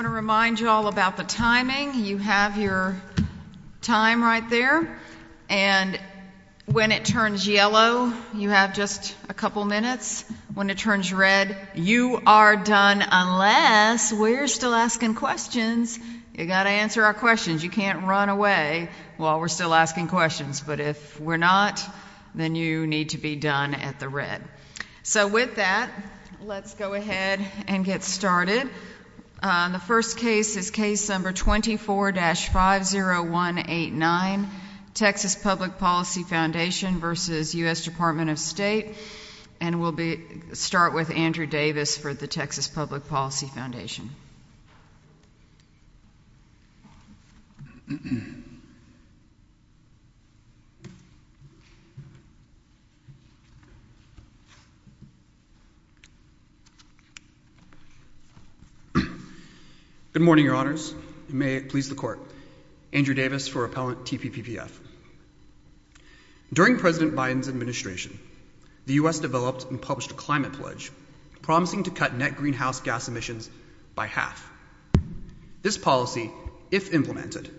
I want to remind you all about the timing. You have your time right there. And when it turns yellow, you have just a couple minutes. When it turns red, you are done unless we're still asking questions. You've got to answer our questions. You can't run away while we're still asking questions. But if we're not, then you need to be done at the red. So with that, let's go ahead and get started. The first case is case number 24-50189, Texas Public Policy Foundation v. U.S. Dept. of State. And we'll start with Andrew Davis for the Texas Public Policy Foundation. Good morning, Your Honors. May it please the Court. Andrew Davis for Appellant TPPPF. During President Biden's administration, the U.S. developed and published a climate pledge promising to cut net greenhouse gas emissions by half. This policy, if implemented,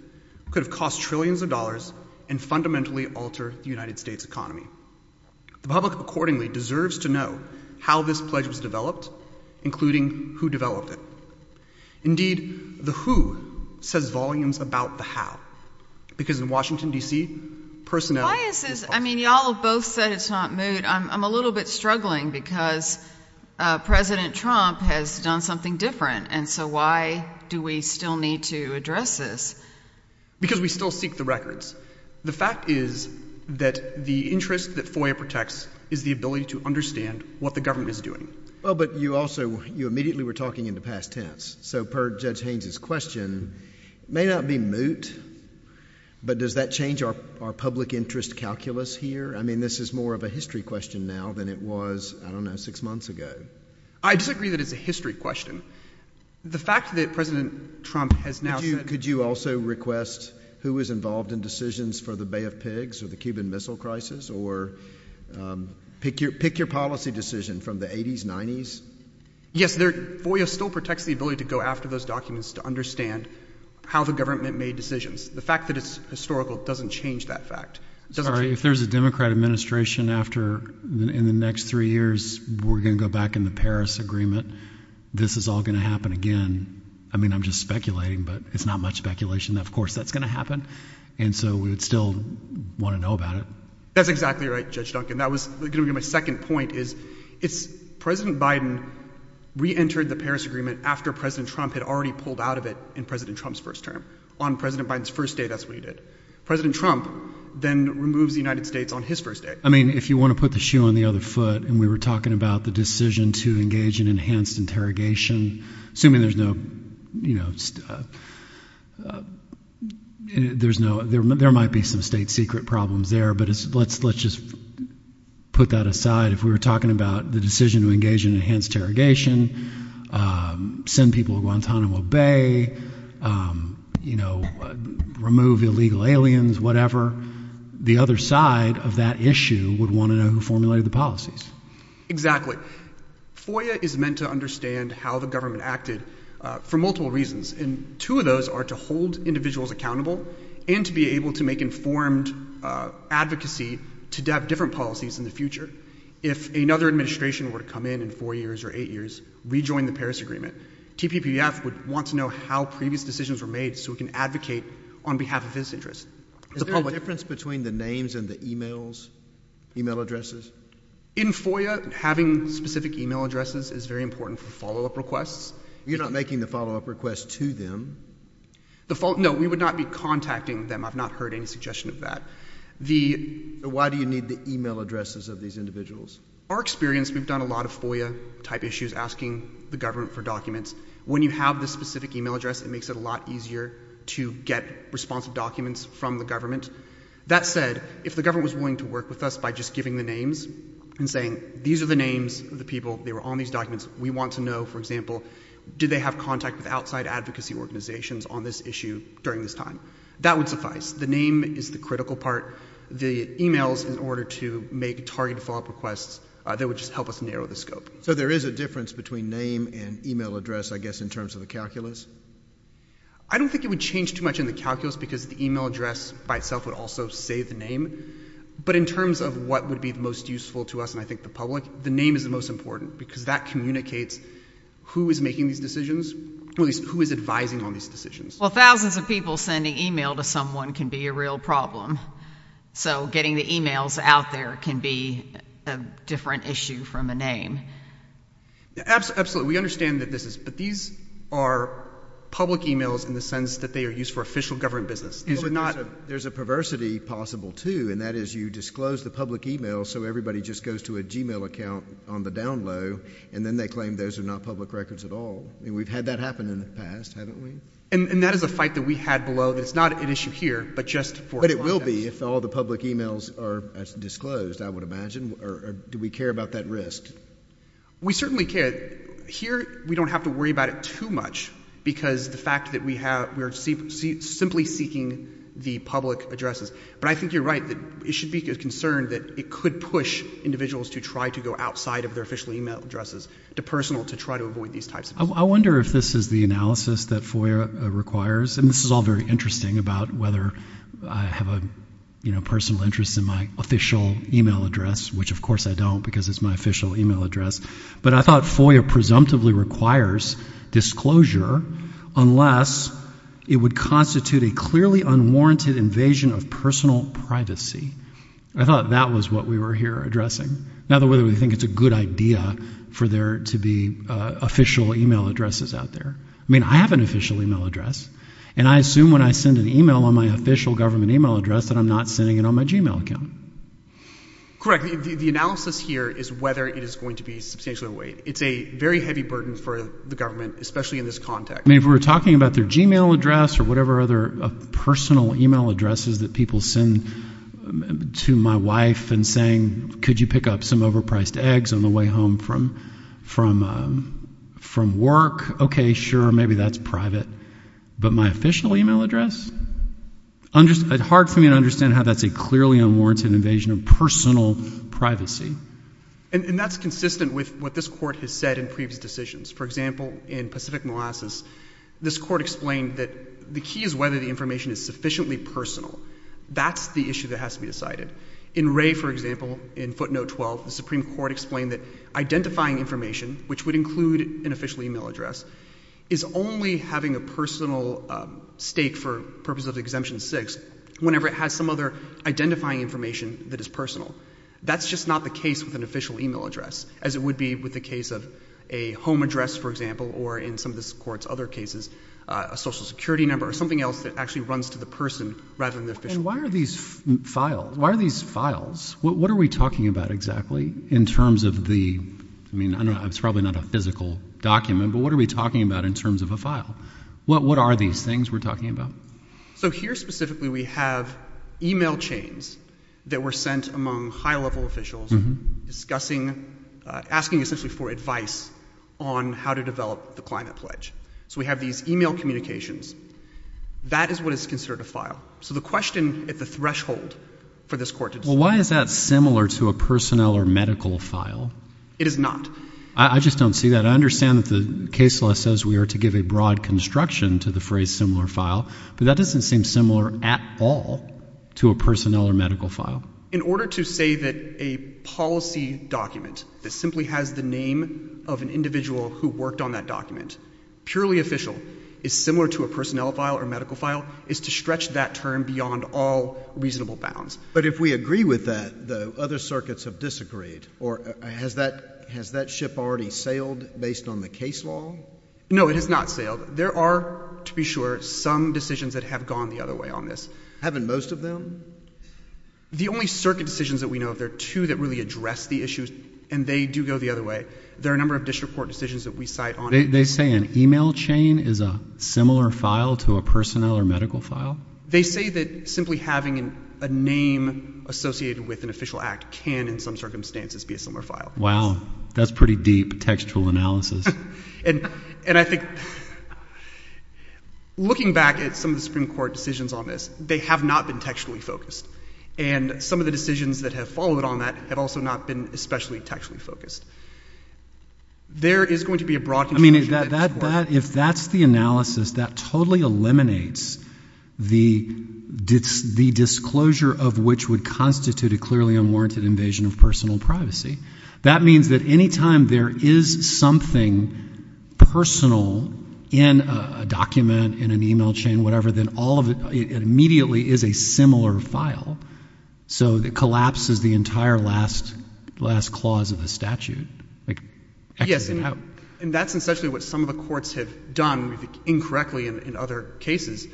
could have cost trillions of dollars and fundamentally alter the United States economy. The public accordingly deserves to know how this pledge was developed, including who developed it. Indeed, the who says volumes about the how, because in Washington, D.C., personnel is possible. Why is this? I mean, y'all have both said it's not moot. I'm a little bit struggling because President Trump has done something different. And so why do we still need to address this? Because we still seek the records. The fact is that the interest that FOIA protects is the ability to understand what the government is doing. Well, but you also, you immediately were talking in the past tense. So per Judge Haynes' question, may not be moot, but does that change our public interest calculus here? I mean, this is more of a history question now than it was, I don't know, six months ago. I disagree that it's a history question. The fact that President Trump has now said Could you also request who was involved in decisions for the Bay of Pigs or the Cuban Pick your policy decision from the 80s, 90s. Yes, FOIA still protects the ability to go after those documents to understand how the government made decisions. The fact that it's historical doesn't change that fact. Sorry, if there's a Democrat administration after in the next three years, we're going to go back in the Paris Agreement. This is all going to happen again. I mean, I'm just speculating, but it's not much speculation. Of course, that's going to happen. And so we would still want to know about it. That's exactly right, Judge Duncan. That was going to be my second point is it's President Biden reentered the Paris Agreement after President Trump had already pulled out of it in President Trump's first term on President Biden's first day. That's what he did. President Trump then removes the United States on his first day. I mean, if you want to put the shoe on the other foot and we were talking about the decision to engage in enhanced interrogation, assuming there's no, you know, there's no, there might be some state secret problems there, but let's just put that aside. If we were talking about the decision to engage in enhanced interrogation, send people to Guantanamo Bay, you know, remove illegal aliens, whatever, the other side of that issue would want to know who formulated the policies. Exactly. FOIA is meant to understand how the government acted for multiple reasons. And two of those are to hold individuals accountable and to be able to make informed advocacy to have different policies in the future. If another administration were to come in in four years or eight years, rejoin the Paris Agreement, TPPF would want to know how previous decisions were made so we can advocate on behalf of this interest. Is there a difference between the names and the emails, email addresses? In FOIA, having specific email addresses is very important for follow-up requests. You're not making the follow-up request to them. The follow, no, we would not be contacting them. I've not heard any suggestion of that. The Why do you need the email addresses of these individuals? Our experience, we've done a lot of FOIA-type issues asking the government for documents. When you have the specific email address, it makes it a lot easier to get responsive documents from the government. That said, if the government was willing to work with us by just giving the names and saying, these are the names of the people, they were on these documents, we want to know, for example, did they have contact with outside advocacy organizations on this issue during this time? That would suffice. The name is the critical part. The emails, in order to make targeted follow-up requests, they would just help us narrow the scope. So there is a difference between name and email address, I guess, in terms of the calculus? I don't think it would change too much in the calculus because the email address by itself would also say the name. But in terms of what would be most useful to us and I think the public, the name is the most important because that communicates who is making these decisions, or at least who is advising on these decisions. Well, thousands of people sending email to someone can be a real problem. So getting the emails out there can be a different issue from a name. Absolutely. We understand that this is, but these are public emails in the sense that they are used for official government business. But there's a perversity possible too, and that is you disclose the public email so everybody just goes to a Gmail account on the down-low and then they claim those are not public records at all. We've had that happen in the past, haven't we? And that is a fight that we had below that it's not an issue here, but just for a process. But it will be if all the public emails are disclosed, I would imagine. Do we care about that risk? We certainly care. Here, we don't have to worry about it too much because the fact that we are simply seeking the public addresses. But I think you're right that it should be a concern that it could push individuals to try to go outside of their official email addresses, to personal, to try to avoid these types of things. I wonder if this is the analysis that FOIA requires. And this is all very interesting about whether I have a personal interest in my official email address, which of course I don't because it's my official email address. But I thought FOIA presumptively requires disclosure unless it would constitute a clearly unwarranted invasion of personal privacy. I thought that was what we were here addressing. In other words, we think it's a good idea for there to be official email addresses out there. I mean, I have an official email address. And I assume when I send an email on my official government email address that I'm not sending it on my Gmail account. Correct. The analysis here is whether it is going to be substantially overweight. It's a very heavy burden for the government, especially in this context. I mean, if we were talking about their Gmail address or whatever other personal email addresses that people send to my wife and saying, could you pick up some overpriced eggs on the way home from work? Okay, sure. Maybe that's private. But my official email address? Hard for me to understand how that's a clearly unwarranted invasion of personal privacy. And that's consistent with what this Court has said in previous decisions. For example, in Pacific Molasses, this Court explained that the key is whether the information is sufficiently personal. That's the issue that has to be decided. In Wray, for example, in footnote 12, the Supreme Court explained that identifying information, which would include an official email address, is only having a personal stake for purposes of exemption six whenever it has some other identifying information that is personal. That's just not the case with an official email address, as it would be with the case of a home address, for example, or in some of this Court's other cases, a social security number or something else that actually runs to the person rather than the official email address. And why are these files, what are we talking about exactly in terms of the, I mean, it's probably not a physical document, but what are we talking about in terms of a file? What are these things we're talking about? So here, specifically, we have email chains that were sent among high-level officials discussing, asking essentially for advice on how to develop the Climate Pledge. So we have these email communications. That is what is considered a file. So the question at the threshold for this Court to decide— Well, why is that similar to a personnel or medical file? It is not. I just don't see that. I understand that the case law says we are to give a broad construction to the phrase similar file, but that doesn't seem similar at all to a personnel or medical file. In order to say that a policy document that simply has the name of an individual who worked on that document, purely official, is similar to a personnel file or medical file, is to stretch that term beyond all reasonable bounds. But if we agree with that, the other circuits have disagreed, or has that ship already sailed based on the case law? No, it has not sailed. There are, to be sure, some decisions that have gone the other way on this. Haven't most of them? The only circuit decisions that we know of, there are two that really address the issues, and they do go the other way. There are a number of district court decisions that we cite on— They say an email chain is a similar file to a personnel or medical file? They say that simply having a name associated with an official act can, in some circumstances, be a similar file. Wow. That's pretty deep textual analysis. And I think, looking back at some of the Supreme Court decisions on this, they have not been textually focused. And some of the decisions that have followed on that have also not been especially textually focused. There is going to be a broad control— I mean, if that's the analysis, that totally eliminates the disclosure of which would constitute a clearly unwarranted invasion of personal privacy. That means that any time there is something personal in a document, in an email chain, whatever, then all of it immediately is a similar file. So it collapses the entire last clause of the statute. Yes, and that's essentially what some of the courts have done incorrectly in other cases,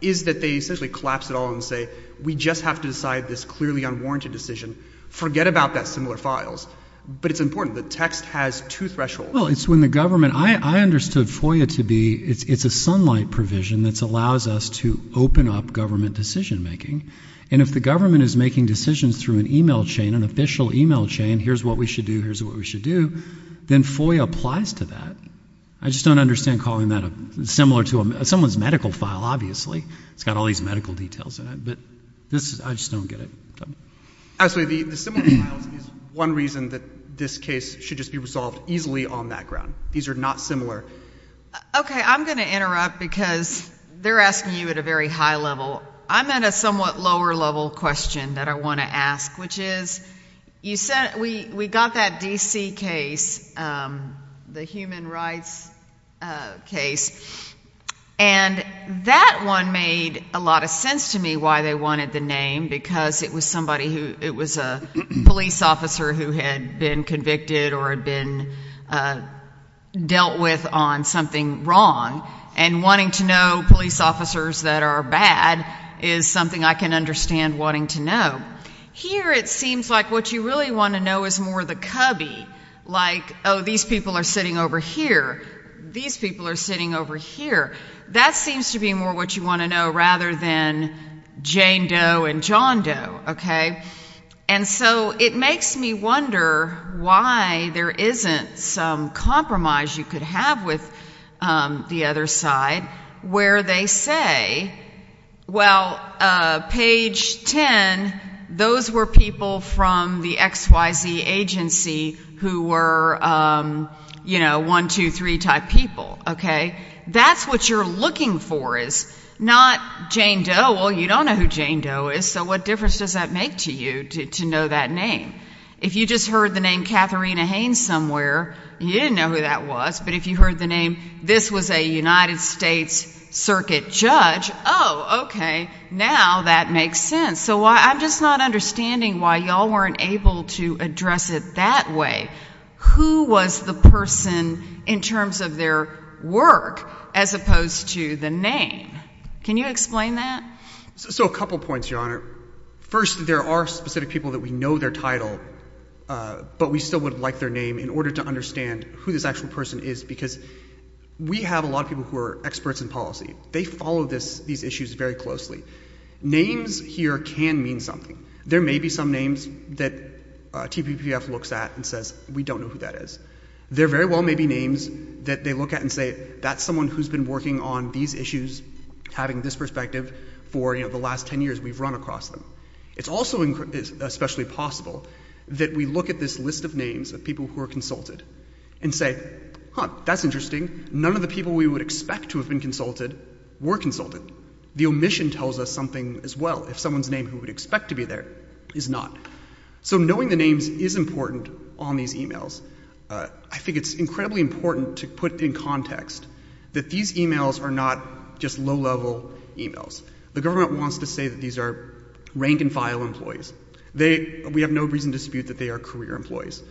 is that they essentially collapse it all and say, we just have to decide this clearly unwarranted decision. Forget about that similar files. But it's important. The text has two thresholds. Well, it's when the government—I understood FOIA to be, it's a sunlight provision that allows us to open up government decision-making. And if the government is making decisions through an email chain, an official email chain, here's what we should do, here's what we should do, then FOIA applies to that. I just don't understand calling that a—similar to someone's medical file, obviously. It's got all these medical details in it. But this, I just don't get it. Actually, the similar files is one reason that this case should just be resolved easily on that ground. These are not similar. Okay, I'm going to interrupt because they're asking you at a very high level. I'm at a somewhat lower level question that I want to ask, which is, you said we got that D.C. case, the human rights case, and that one made a lot of sense to me why they wanted the name, because it was somebody who—it was a police officer who had been convicted or had been dealt with on something wrong. And wanting to know police officers that are bad is something I can understand wanting to know. Here, it seems like what you really want to know is more the cubby, like, oh, these people are sitting over here. These people are sitting over here. That seems to be more what you want to know, rather than Jane Doe and John Doe, okay? And so it makes me wonder why there isn't some compromise you could have with the other side where they say, well, page 10, those were people from the XYZ agency who were, you know, one, two, three type people, okay? That's what you're looking for is not Jane Doe. Well, you don't know who Jane Doe is, so what difference does that make to you to know that name? If you just heard the name Katharina Haynes somewhere, you didn't know who that was, but if you heard the name, this was a United States Circuit judge, oh, okay, now that makes sense. So I'm just not understanding why y'all weren't able to address it that way. Who was the person in terms of their work as opposed to the name? Can you explain that? So a couple points, Your Honor. First, there are specific people that we know their title, but we still would like their name in order to understand who this actual person is, because we have a lot of people who are experts in policy. They follow these issues very closely. Names here can mean something. There may be some names that TPPF looks at and says, we don't know who that is. There very well may be names that they look at and say, that's someone who's been working on these issues, having this perspective for, you know, the last 10 years we've run across them. It's also especially possible that we look at this list of names of people who are consulted and say, huh, that's interesting. None of the people we would expect to have been consulted were consulted. The omission tells us something as well. If someone's name who would expect to be there is not. So knowing the names is important on these emails. I think it's incredibly important to put in context that these emails are not just low-level emails. The government wants to say that these are rank-and-file employees. We have no reason to dispute that they are career employees.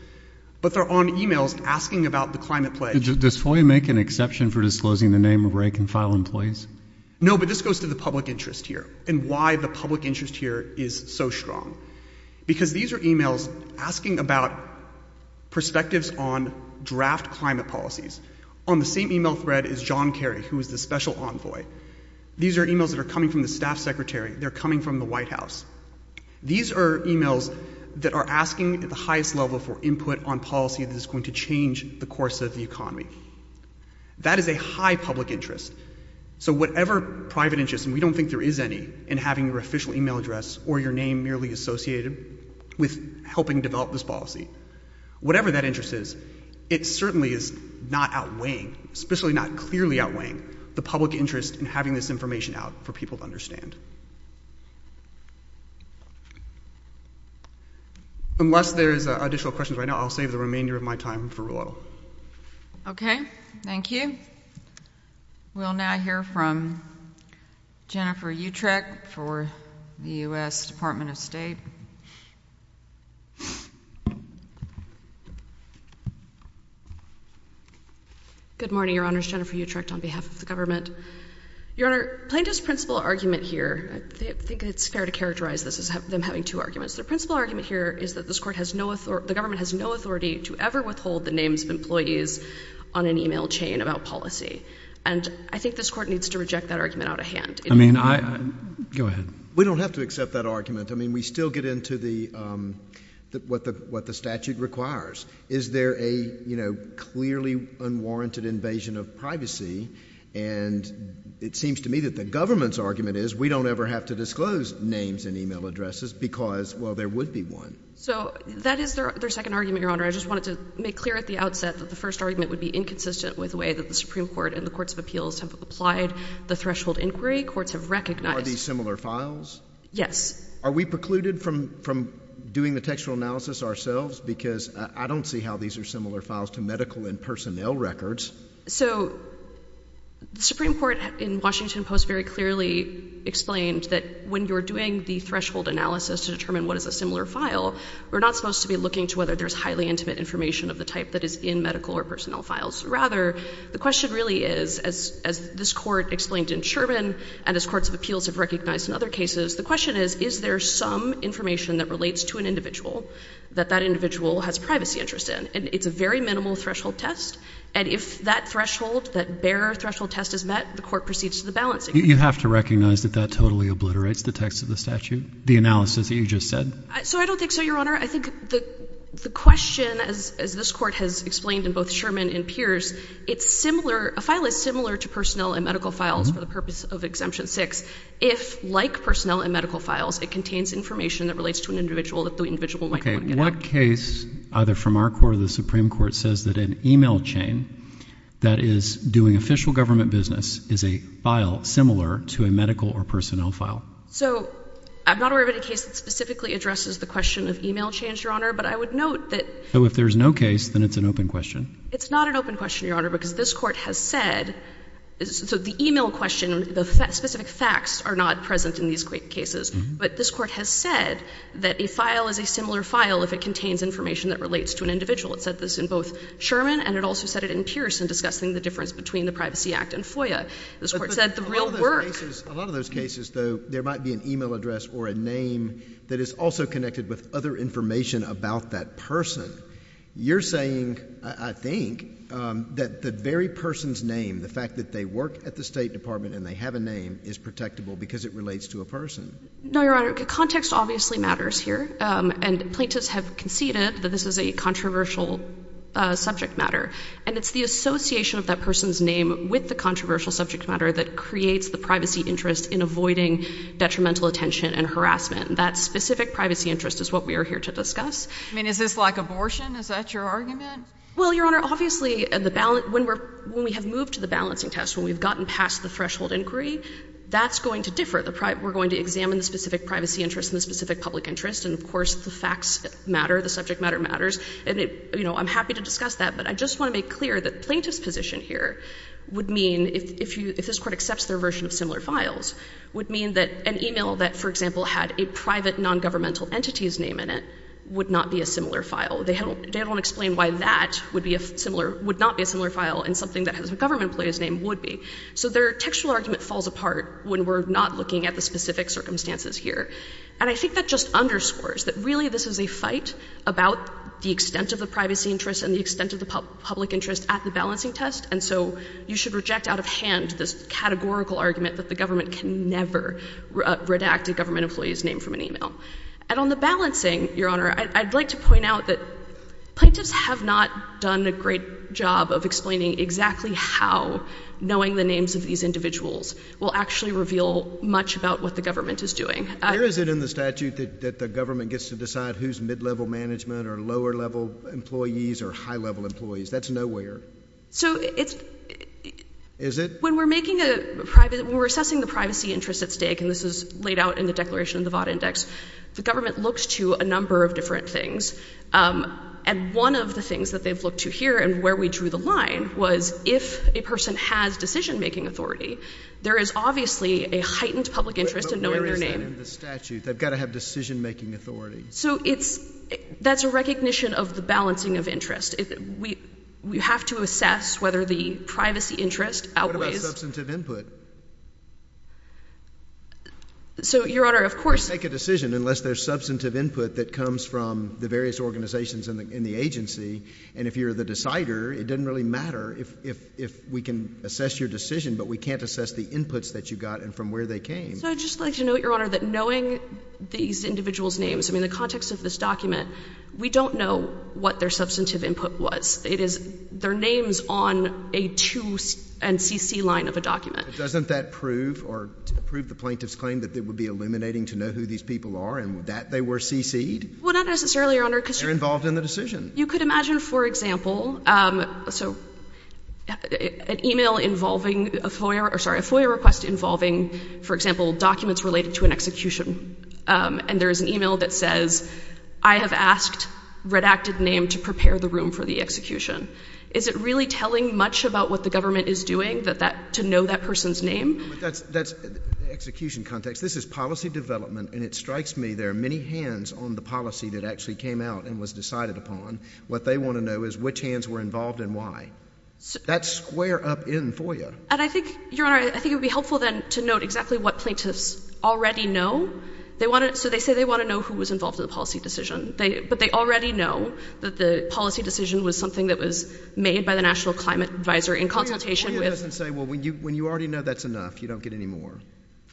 But they're on emails asking about the climate pledge. Does FOIA make an exception for disclosing the name of rank-and-file employees? No, but this goes to the public interest here is so strong. Because these are emails asking about perspectives on draft climate policies. On the same email thread is John Kerry, who is the special envoy. These are emails that are coming from the staff secretary. They're coming from the White House. These are emails that are asking at the highest level for input on policy that is going to change the course of the economy. That is a high public interest. So whatever private interest, and we don't think there is any, in having your official email address or your name merely associated with helping develop this policy. Whatever that interest is, it certainly is not outweighing, especially not clearly outweighing, the public interest in having this information out for people to understand. Unless there is additional questions right now, I'll save the remainder of my time for Rulo. Okay. Thank you. We'll now hear from Jennifer Utrecht for the U.S. Department of State. Good morning, Your Honors. Jennifer Utrecht on behalf of the government. Your Honor, plaintiff's principal argument here, I think it's fair to characterize this as them having two arguments. Their principal argument here is that this court has no authority, the government has no authority, to ever withhold the names of employees on an email chain about policy. And I think this court needs to reject that argument out of hand. I mean, I, go ahead. We don't have to accept that argument. I mean, we still get into the, what the statute requires. Is there a, you know, clearly unwarranted invasion of privacy? And it seems to me that the government's argument is we don't ever have to disclose names and email addresses because, well, there would be one. So that is their second argument, Your Honor. I just wanted to make clear at the outset that the first argument would be inconsistent with the way that the Supreme Court and the Courts of Appeals have applied the threshold inquiry. Courts have recognized— Are these similar files? Yes. Are we precluded from doing the textual analysis ourselves? Because I don't see how these are similar files to medical and personnel records. So the Supreme Court in Washington Post very clearly explained that when you're doing the threshold analysis to determine what is a similar file, we're not supposed to be looking to whether there's highly intimate information of the type that is in medical or personnel files. Rather, the question really is, as this Court explained in Sherman and as Courts of Appeals have recognized in other cases, the question is, is there some information that relates to an individual that that individual has privacy interest in? And it's a very minimal threshold test. And if that threshold, that bare threshold test is met, the Court proceeds to the balancing. You have to recognize that that totally obliterates the text of the statute, the analysis that you just said. So I don't think so, Your Honor. I think the question, as this Court has explained in both Sherman and Pierce, it's similar—a file is similar to personnel and medical files for the purpose of Exemption 6 if, like personnel and medical files, it contains information that relates to an individual that the individual might want to get out. Okay. What case, either from our Court or the Supreme Court, says that an email chain that is doing official government business is a file similar to a medical or personnel file? So I'm not aware of any case that specifically addresses the question of email chains, Your Honor, but I would note that— So if there's no case, then it's an open question? It's not an open question, Your Honor, because this Court has said—so the email question, the specific facts are not present in these cases. But this Court has said that a file is a similar file if it contains information that relates to an individual. It said this in both Sherman and it also said it in Pierce in discussing the difference between the Privacy Act and FOIA. This Court said the real work— A lot of those cases, though, there might be an email address or a name that is also connected with other information about that person. You're saying, I think, that the very person's name, the fact that they work at the State Department and they have a name, is protectable because it relates to a person. No, Your Honor. Context obviously matters here, and plaintiffs have conceded that this is a controversial subject matter. And it's the association of that person's name with the controversial subject matter that creates the privacy interest in avoiding detrimental attention and harassment. That specific privacy interest is what we are here to discuss. I mean, is this like abortion? Is that your argument? Well, Your Honor, obviously, when we have moved to the balancing test, when we've gotten past the threshold inquiry, that's going to differ. We're going to examine the specific privacy interest and the specific public interest. And, of course, the facts matter, the subject matter matters. And, you know, I'm happy to discuss that, but I just want to make clear that the plaintiff's position here would mean, if this Court accepts their version of similar files, would mean that an email that, for example, had a private nongovernmental entity's name in it would not be a similar file. They don't explain why that would be a similar — would not be a similar file in something that has a government employee's name would be. So their textual argument falls apart when we're not looking at the specific circumstances here. And I think that just underscores that, really, this is a fight about the extent of the privacy interest and the extent of the public interest at the balancing test. And so you should reject out of hand this categorical argument that the government can never redact a government employee's name from an email. And on the balancing, Your Honor, I'd like to point out that plaintiffs have not done a great job of explaining exactly how knowing the names of these individuals will actually reveal much about what the government is doing. Here is it in the statute that the government gets to decide who's mid-level management or lower-level employees or high-level employees. That's nowhere. So it's — Is it? When we're making a private — when we're assessing the privacy interest at stake, and this is laid out in the Declaration of the Vought Index, the government looks to a number of different things. And one of the things that they've looked to here and where we drew the line was if a person has decision-making authority, there is obviously a heightened public interest in knowing their name. But where is that in the statute? They've got to have decision-making authority. So it's — that's a recognition of the balancing of interest. We have to assess whether the privacy interest outweighs — What about substantive input? So Your Honor, of course — You can't make a decision unless there's substantive input that comes from the various organizations in the agency. And if you're the decider, it doesn't really matter if we can assess your decision, but we can't assess the inputs that you got and from where they came. So I'd just like to note, Your Honor, that knowing these individuals' names — I mean, the context of this document, we don't know what their substantive input was. It is their names on a 2- and CC-line of a document. Doesn't that prove or prove the plaintiff's claim that it would be illuminating to know who these people are and that they were CC'd? Well, not necessarily, Your Honor, because — They're involved in the decision. You could imagine, for example — so an email involving a FOIA — or, sorry, a FOIA request involving, for example, documents related to an execution. And there is an email that says I have asked redacted name to prepare the room for the execution. Is it really telling much about what the government is doing that that — to know that person's name? That's — that's execution context. This is policy development, and it strikes me there are many hands on the policy that actually came out and was decided upon. What they want to know is which hands were involved and why. That's square up in FOIA. And I think, Your Honor, I think it would be helpful, then, to note exactly what plaintiffs already know. They want to — so they say they want to know who was involved in the policy decision. They — but they already know that the policy decision was something that was made by the National Climate Advisor in consultation with — FOIA doesn't say, well, when you — when you already know that's enough, you don't get any more.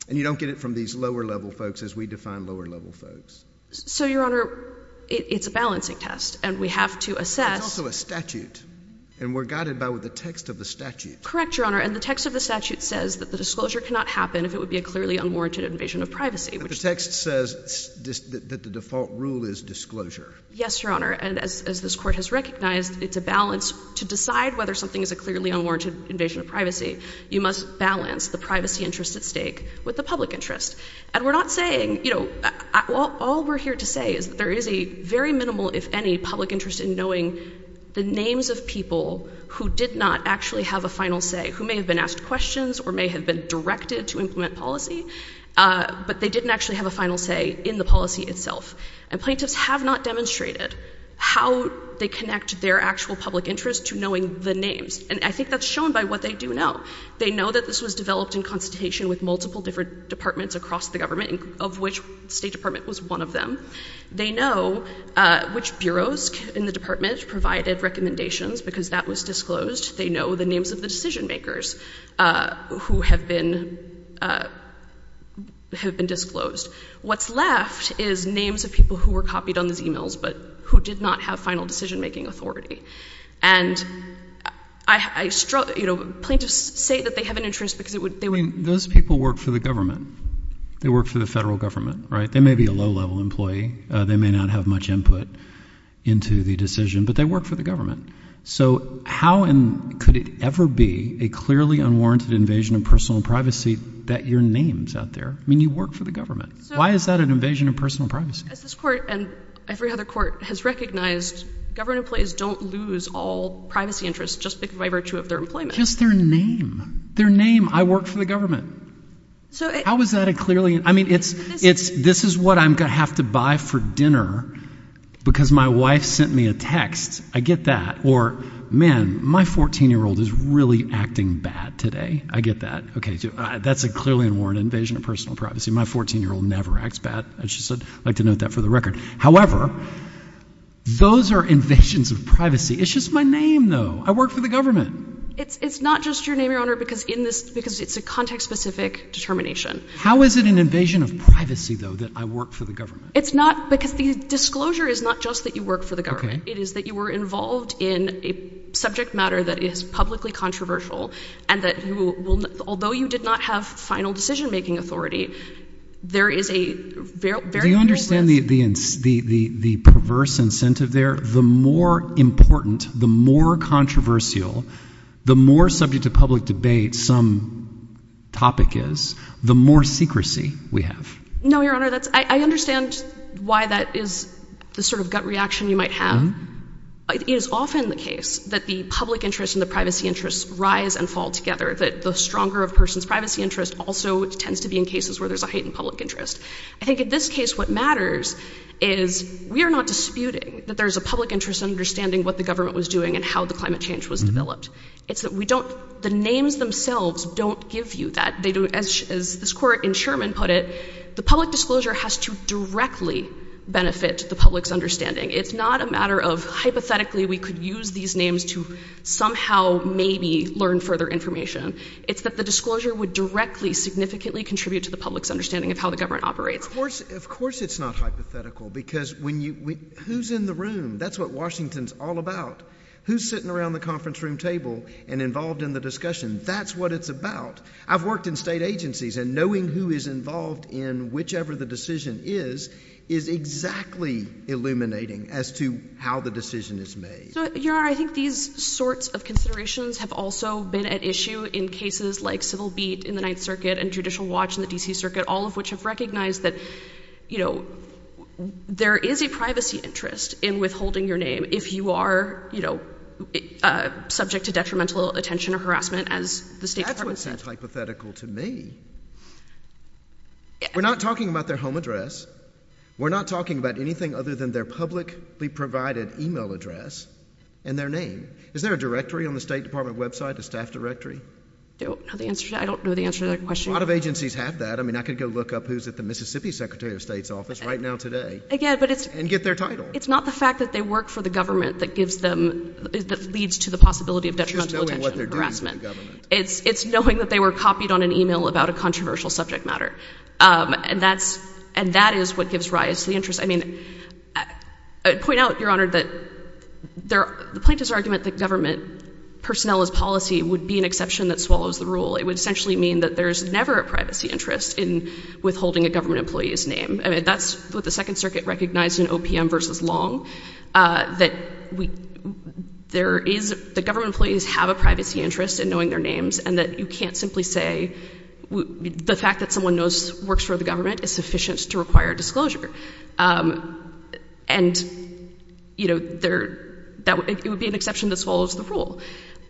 And you don't get it from these lower-level folks, as we define lower-level folks. So, Your Honor, it — it's a balancing test, and we have to assess — It's also a statute, and we're guided by what the text of the statute says. Correct, Your Honor. And the text of the statute says that the disclosure cannot happen if it would be a clearly unwarranted invasion of privacy, which — But the text says that the default rule is disclosure. Yes, Your Honor. And as — as this Court has recognized, it's a balance — to decide whether something is a clearly unwarranted invasion of privacy, you must balance the privacy interest at stake with the public interest. And we're not saying — you know, all we're here to say is that there is a very minimal, if any, public interest in knowing the names of people who did not actually have a final say, who may have been asked questions or may have been directed to implement policy, but they didn't actually have a final say in the policy itself. And plaintiffs have not demonstrated how they connect their actual public interest to knowing the names. And I think that's shown by what they do know. They know that this was developed in consultation with multiple different departments across the government, of which the State Department was one of them. They know which bureaus in the department provided recommendations because that was disclosed. They know the names of the decision-makers who have been — have been disclosed. What's left is names of people who were copied on these emails, but who did not have final decision-making authority. And I — you know, plaintiffs say that they have an interest because it would — I mean, those people work for the government. They work for the federal government, right? They may be a low-level employee. They may not have much input into the decision, but they work for the government. So how could it ever be a clearly unwarranted invasion of personal privacy that your name's out there? I mean, you work for the government. Why is that an invasion of personal privacy? As this court, and every other court, has recognized, government employees don't lose all privacy interests just by virtue of their employment. Just their name. Their name. I work for the government. How is that a clearly — I mean, it's — this is what I'm going to have to buy for dinner because my wife sent me a text. I get that. Or, man, my 14-year-old is really acting bad today. I get that. OK, that's a clearly unwarranted invasion of personal privacy. My 14-year-old never acts bad. I'd just like to note that for the record. However, those are invasions of privacy. It's just my name, though. I work for the government. It's not just your name, Your Honor, because in this — because it's a context-specific determination. How is it an invasion of privacy, though, that I work for the government? It's not because the disclosure is not just that you work for the government. It is that you were involved in a subject matter that is publicly controversial and that you will — although you did not have final decision-making authority, there is a very — Do you understand the perverse incentive there? The more important, the more controversial, the more subject to public debate some topic is, the more secrecy we have. No, Your Honor, that's — I understand why that is the sort of gut reaction you might have. It is often the case that the public interest and the privacy interest rise and fall together, that the stronger a person's privacy interest also tends to be in cases where there's a heightened public interest. I think in this case what matters is we are not disputing that there's a public interest in understanding what the government was doing and how the climate change was developed. It's that we don't — the names themselves don't give you that. They don't — as this court in Sherman put it, the public disclosure has to directly benefit the public's understanding. It's not a matter of hypothetically we could use these names to somehow maybe learn further information. It's that the disclosure would directly significantly contribute to the public's understanding of how the government operates. Of course it's not hypothetical, because when you — who's in the room? That's what Washington's all about. Who's sitting around the conference room table and involved in the discussion? That's what it's about. I've worked in state agencies, and knowing who is involved in whichever the decision is, is exactly illuminating as to how the decision is made. Your Honor, I think these sorts of considerations have also been at issue in cases like Civil Beat in the Ninth Circuit and Judicial Watch in the D.C. Circuit, all of which have recognized that, you know, there is a privacy interest in withholding your name if you are, you know, subject to detrimental attention or harassment, as the State Department said. That's what's so hypothetical to me. We're not talking about their home address. We're not talking about anything other than their publicly provided email address and their name. Is there a directory on the State Department website, a staff directory? I don't know the answer. I don't know the answer to that question. A lot of agencies have that. I mean, I could go look up who's at the Mississippi Secretary of State's office right now today and get their title. It's not the fact that they work for the government that gives them — that leads to the possibility of detrimental attention or harassment. It's knowing what they're doing for the government. It's knowing that they were copied on an email about a controversial subject matter. And that's — and that is what gives rise to the interest. I mean, I'd point out, Your Honor, that the plaintiff's argument that government personnel is policy would be an exception that swallows the rule. It would essentially mean that there's never a privacy interest in withholding a government employee's name. I mean, that's what the Second Circuit recognized in OPM v. Long, that we — there is — that government employees have a privacy interest in knowing their names and that you can't simply say — the fact that someone knows — works for the government is sufficient to require disclosure. And you know, there — it would be an exception that swallows the rule.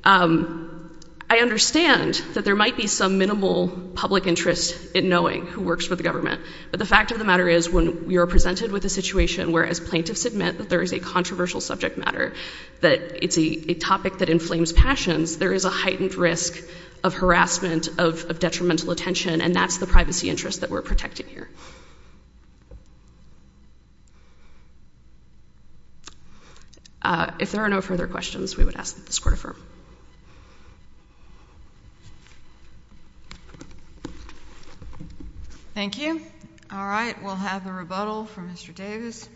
I understand that there might be some minimal public interest in knowing who works for the government, but the fact of the matter is, when you're presented with a situation where, as plaintiffs admit that there is a controversial subject matter, that it's a topic that inflames passions, there is a heightened risk of harassment, of detrimental attention, and that's the privacy interest that we're protecting here. If there are no further questions, we would ask that this Court affirm. Thank you. All right. We'll have a rebuttal from Mr. Davis.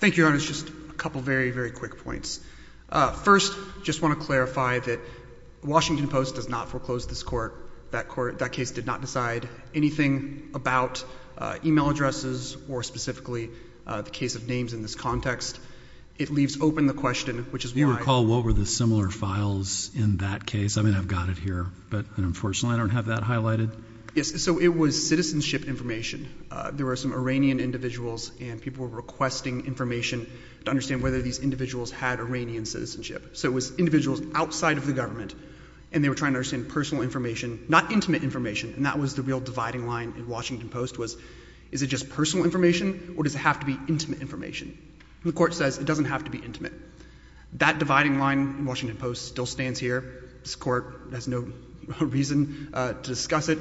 Thank you, Your Honors. Just a couple very, very quick points. First, I just want to clarify that the Washington Post does not foreclose this Court. That case did not decide anything about e-mail addresses or specifically the case of names in this context. It leaves open the question, which is why — Do you recall what were the similar files in that case? I mean, I've got it here, but unfortunately, I don't have that highlighted. Yes. So it was citizenship information. There were some Iranian individuals, and people were requesting information to understand whether these individuals had Iranian citizenship. So it was individuals outside of the government, and they were trying to understand personal information, not intimate information, and that was the real dividing line in Washington Post was, is it just personal information, or does it have to be intimate information? The Court says it doesn't have to be intimate. That dividing line in Washington Post still stands here. This Court has no reason to discuss it.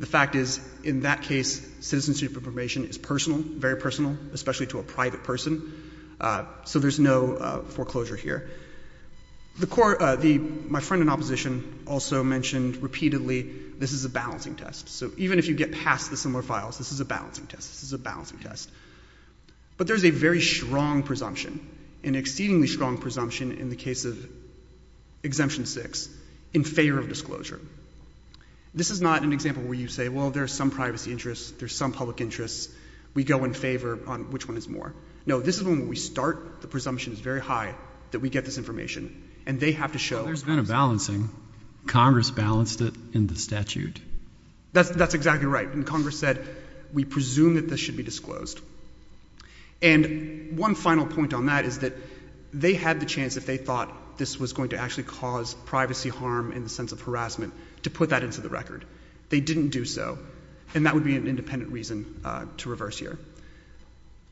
The fact is, in that case, citizenship information is personal, very personal, especially to a private person. So there's no foreclosure here. The Court — my friend in opposition also mentioned repeatedly, this is a balancing test. So even if you get past the similar files, this is a balancing test. This is a balancing test. But there's a very strong presumption, an exceedingly strong presumption in the case of Exemption 6, in favor of disclosure. This is not an example where you say, well, there's some privacy interests, there's some public interests, we go in favor on which one is more. No, this is when we start, the presumption is very high that we get this information, and they have to show — Well, there's been a balancing. Congress balanced it in the statute. That's exactly right. And Congress said, we presume that this should be disclosed. And one final point on that is that they had the chance, if they thought this was going to actually cause privacy harm in the sense of harassment, to put that into the record. They didn't do so. And that would be an independent reason to reverse here.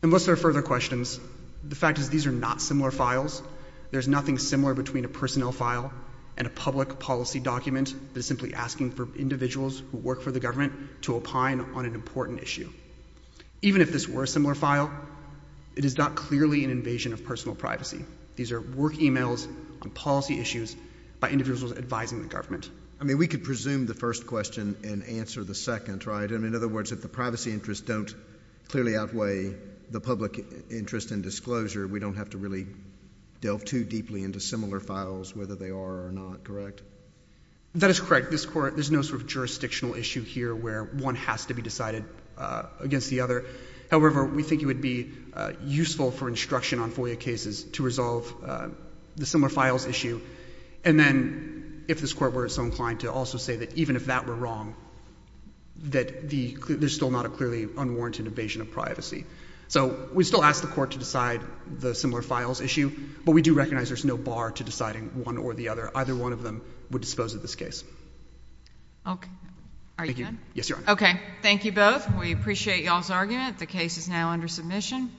Unless there are further questions, the fact is, these are not similar files. There's nothing similar between a personnel file and a public policy document that is simply asking for individuals who work for the government to opine on an important issue. Even if this were a similar file, it is not clearly an invasion of personal privacy. These are work emails on policy issues by individuals advising the government. I mean, we could presume the first question and answer the second, right? And in other words, if the privacy interests don't clearly outweigh the public interest in disclosure, we don't have to really delve too deeply into similar files, whether they are or not, correct? That is correct. There's no sort of jurisdictional issue here where one has to be decided against the other. However, we think it would be useful for instruction on FOIA cases to resolve the similar files issue. And then if this Court were so inclined to also say that even if that were wrong, that there's still not a clearly unwarranted invasion of privacy. So we still ask the Court to decide the similar files issue, but we do recognize there's no bar to deciding one or the other. Either one of them would dispose of this case. Okay. Are you done? Thank you. Yes, Your Honor. Okay. Thank you both. We appreciate y'all's argument. The case is now under submission.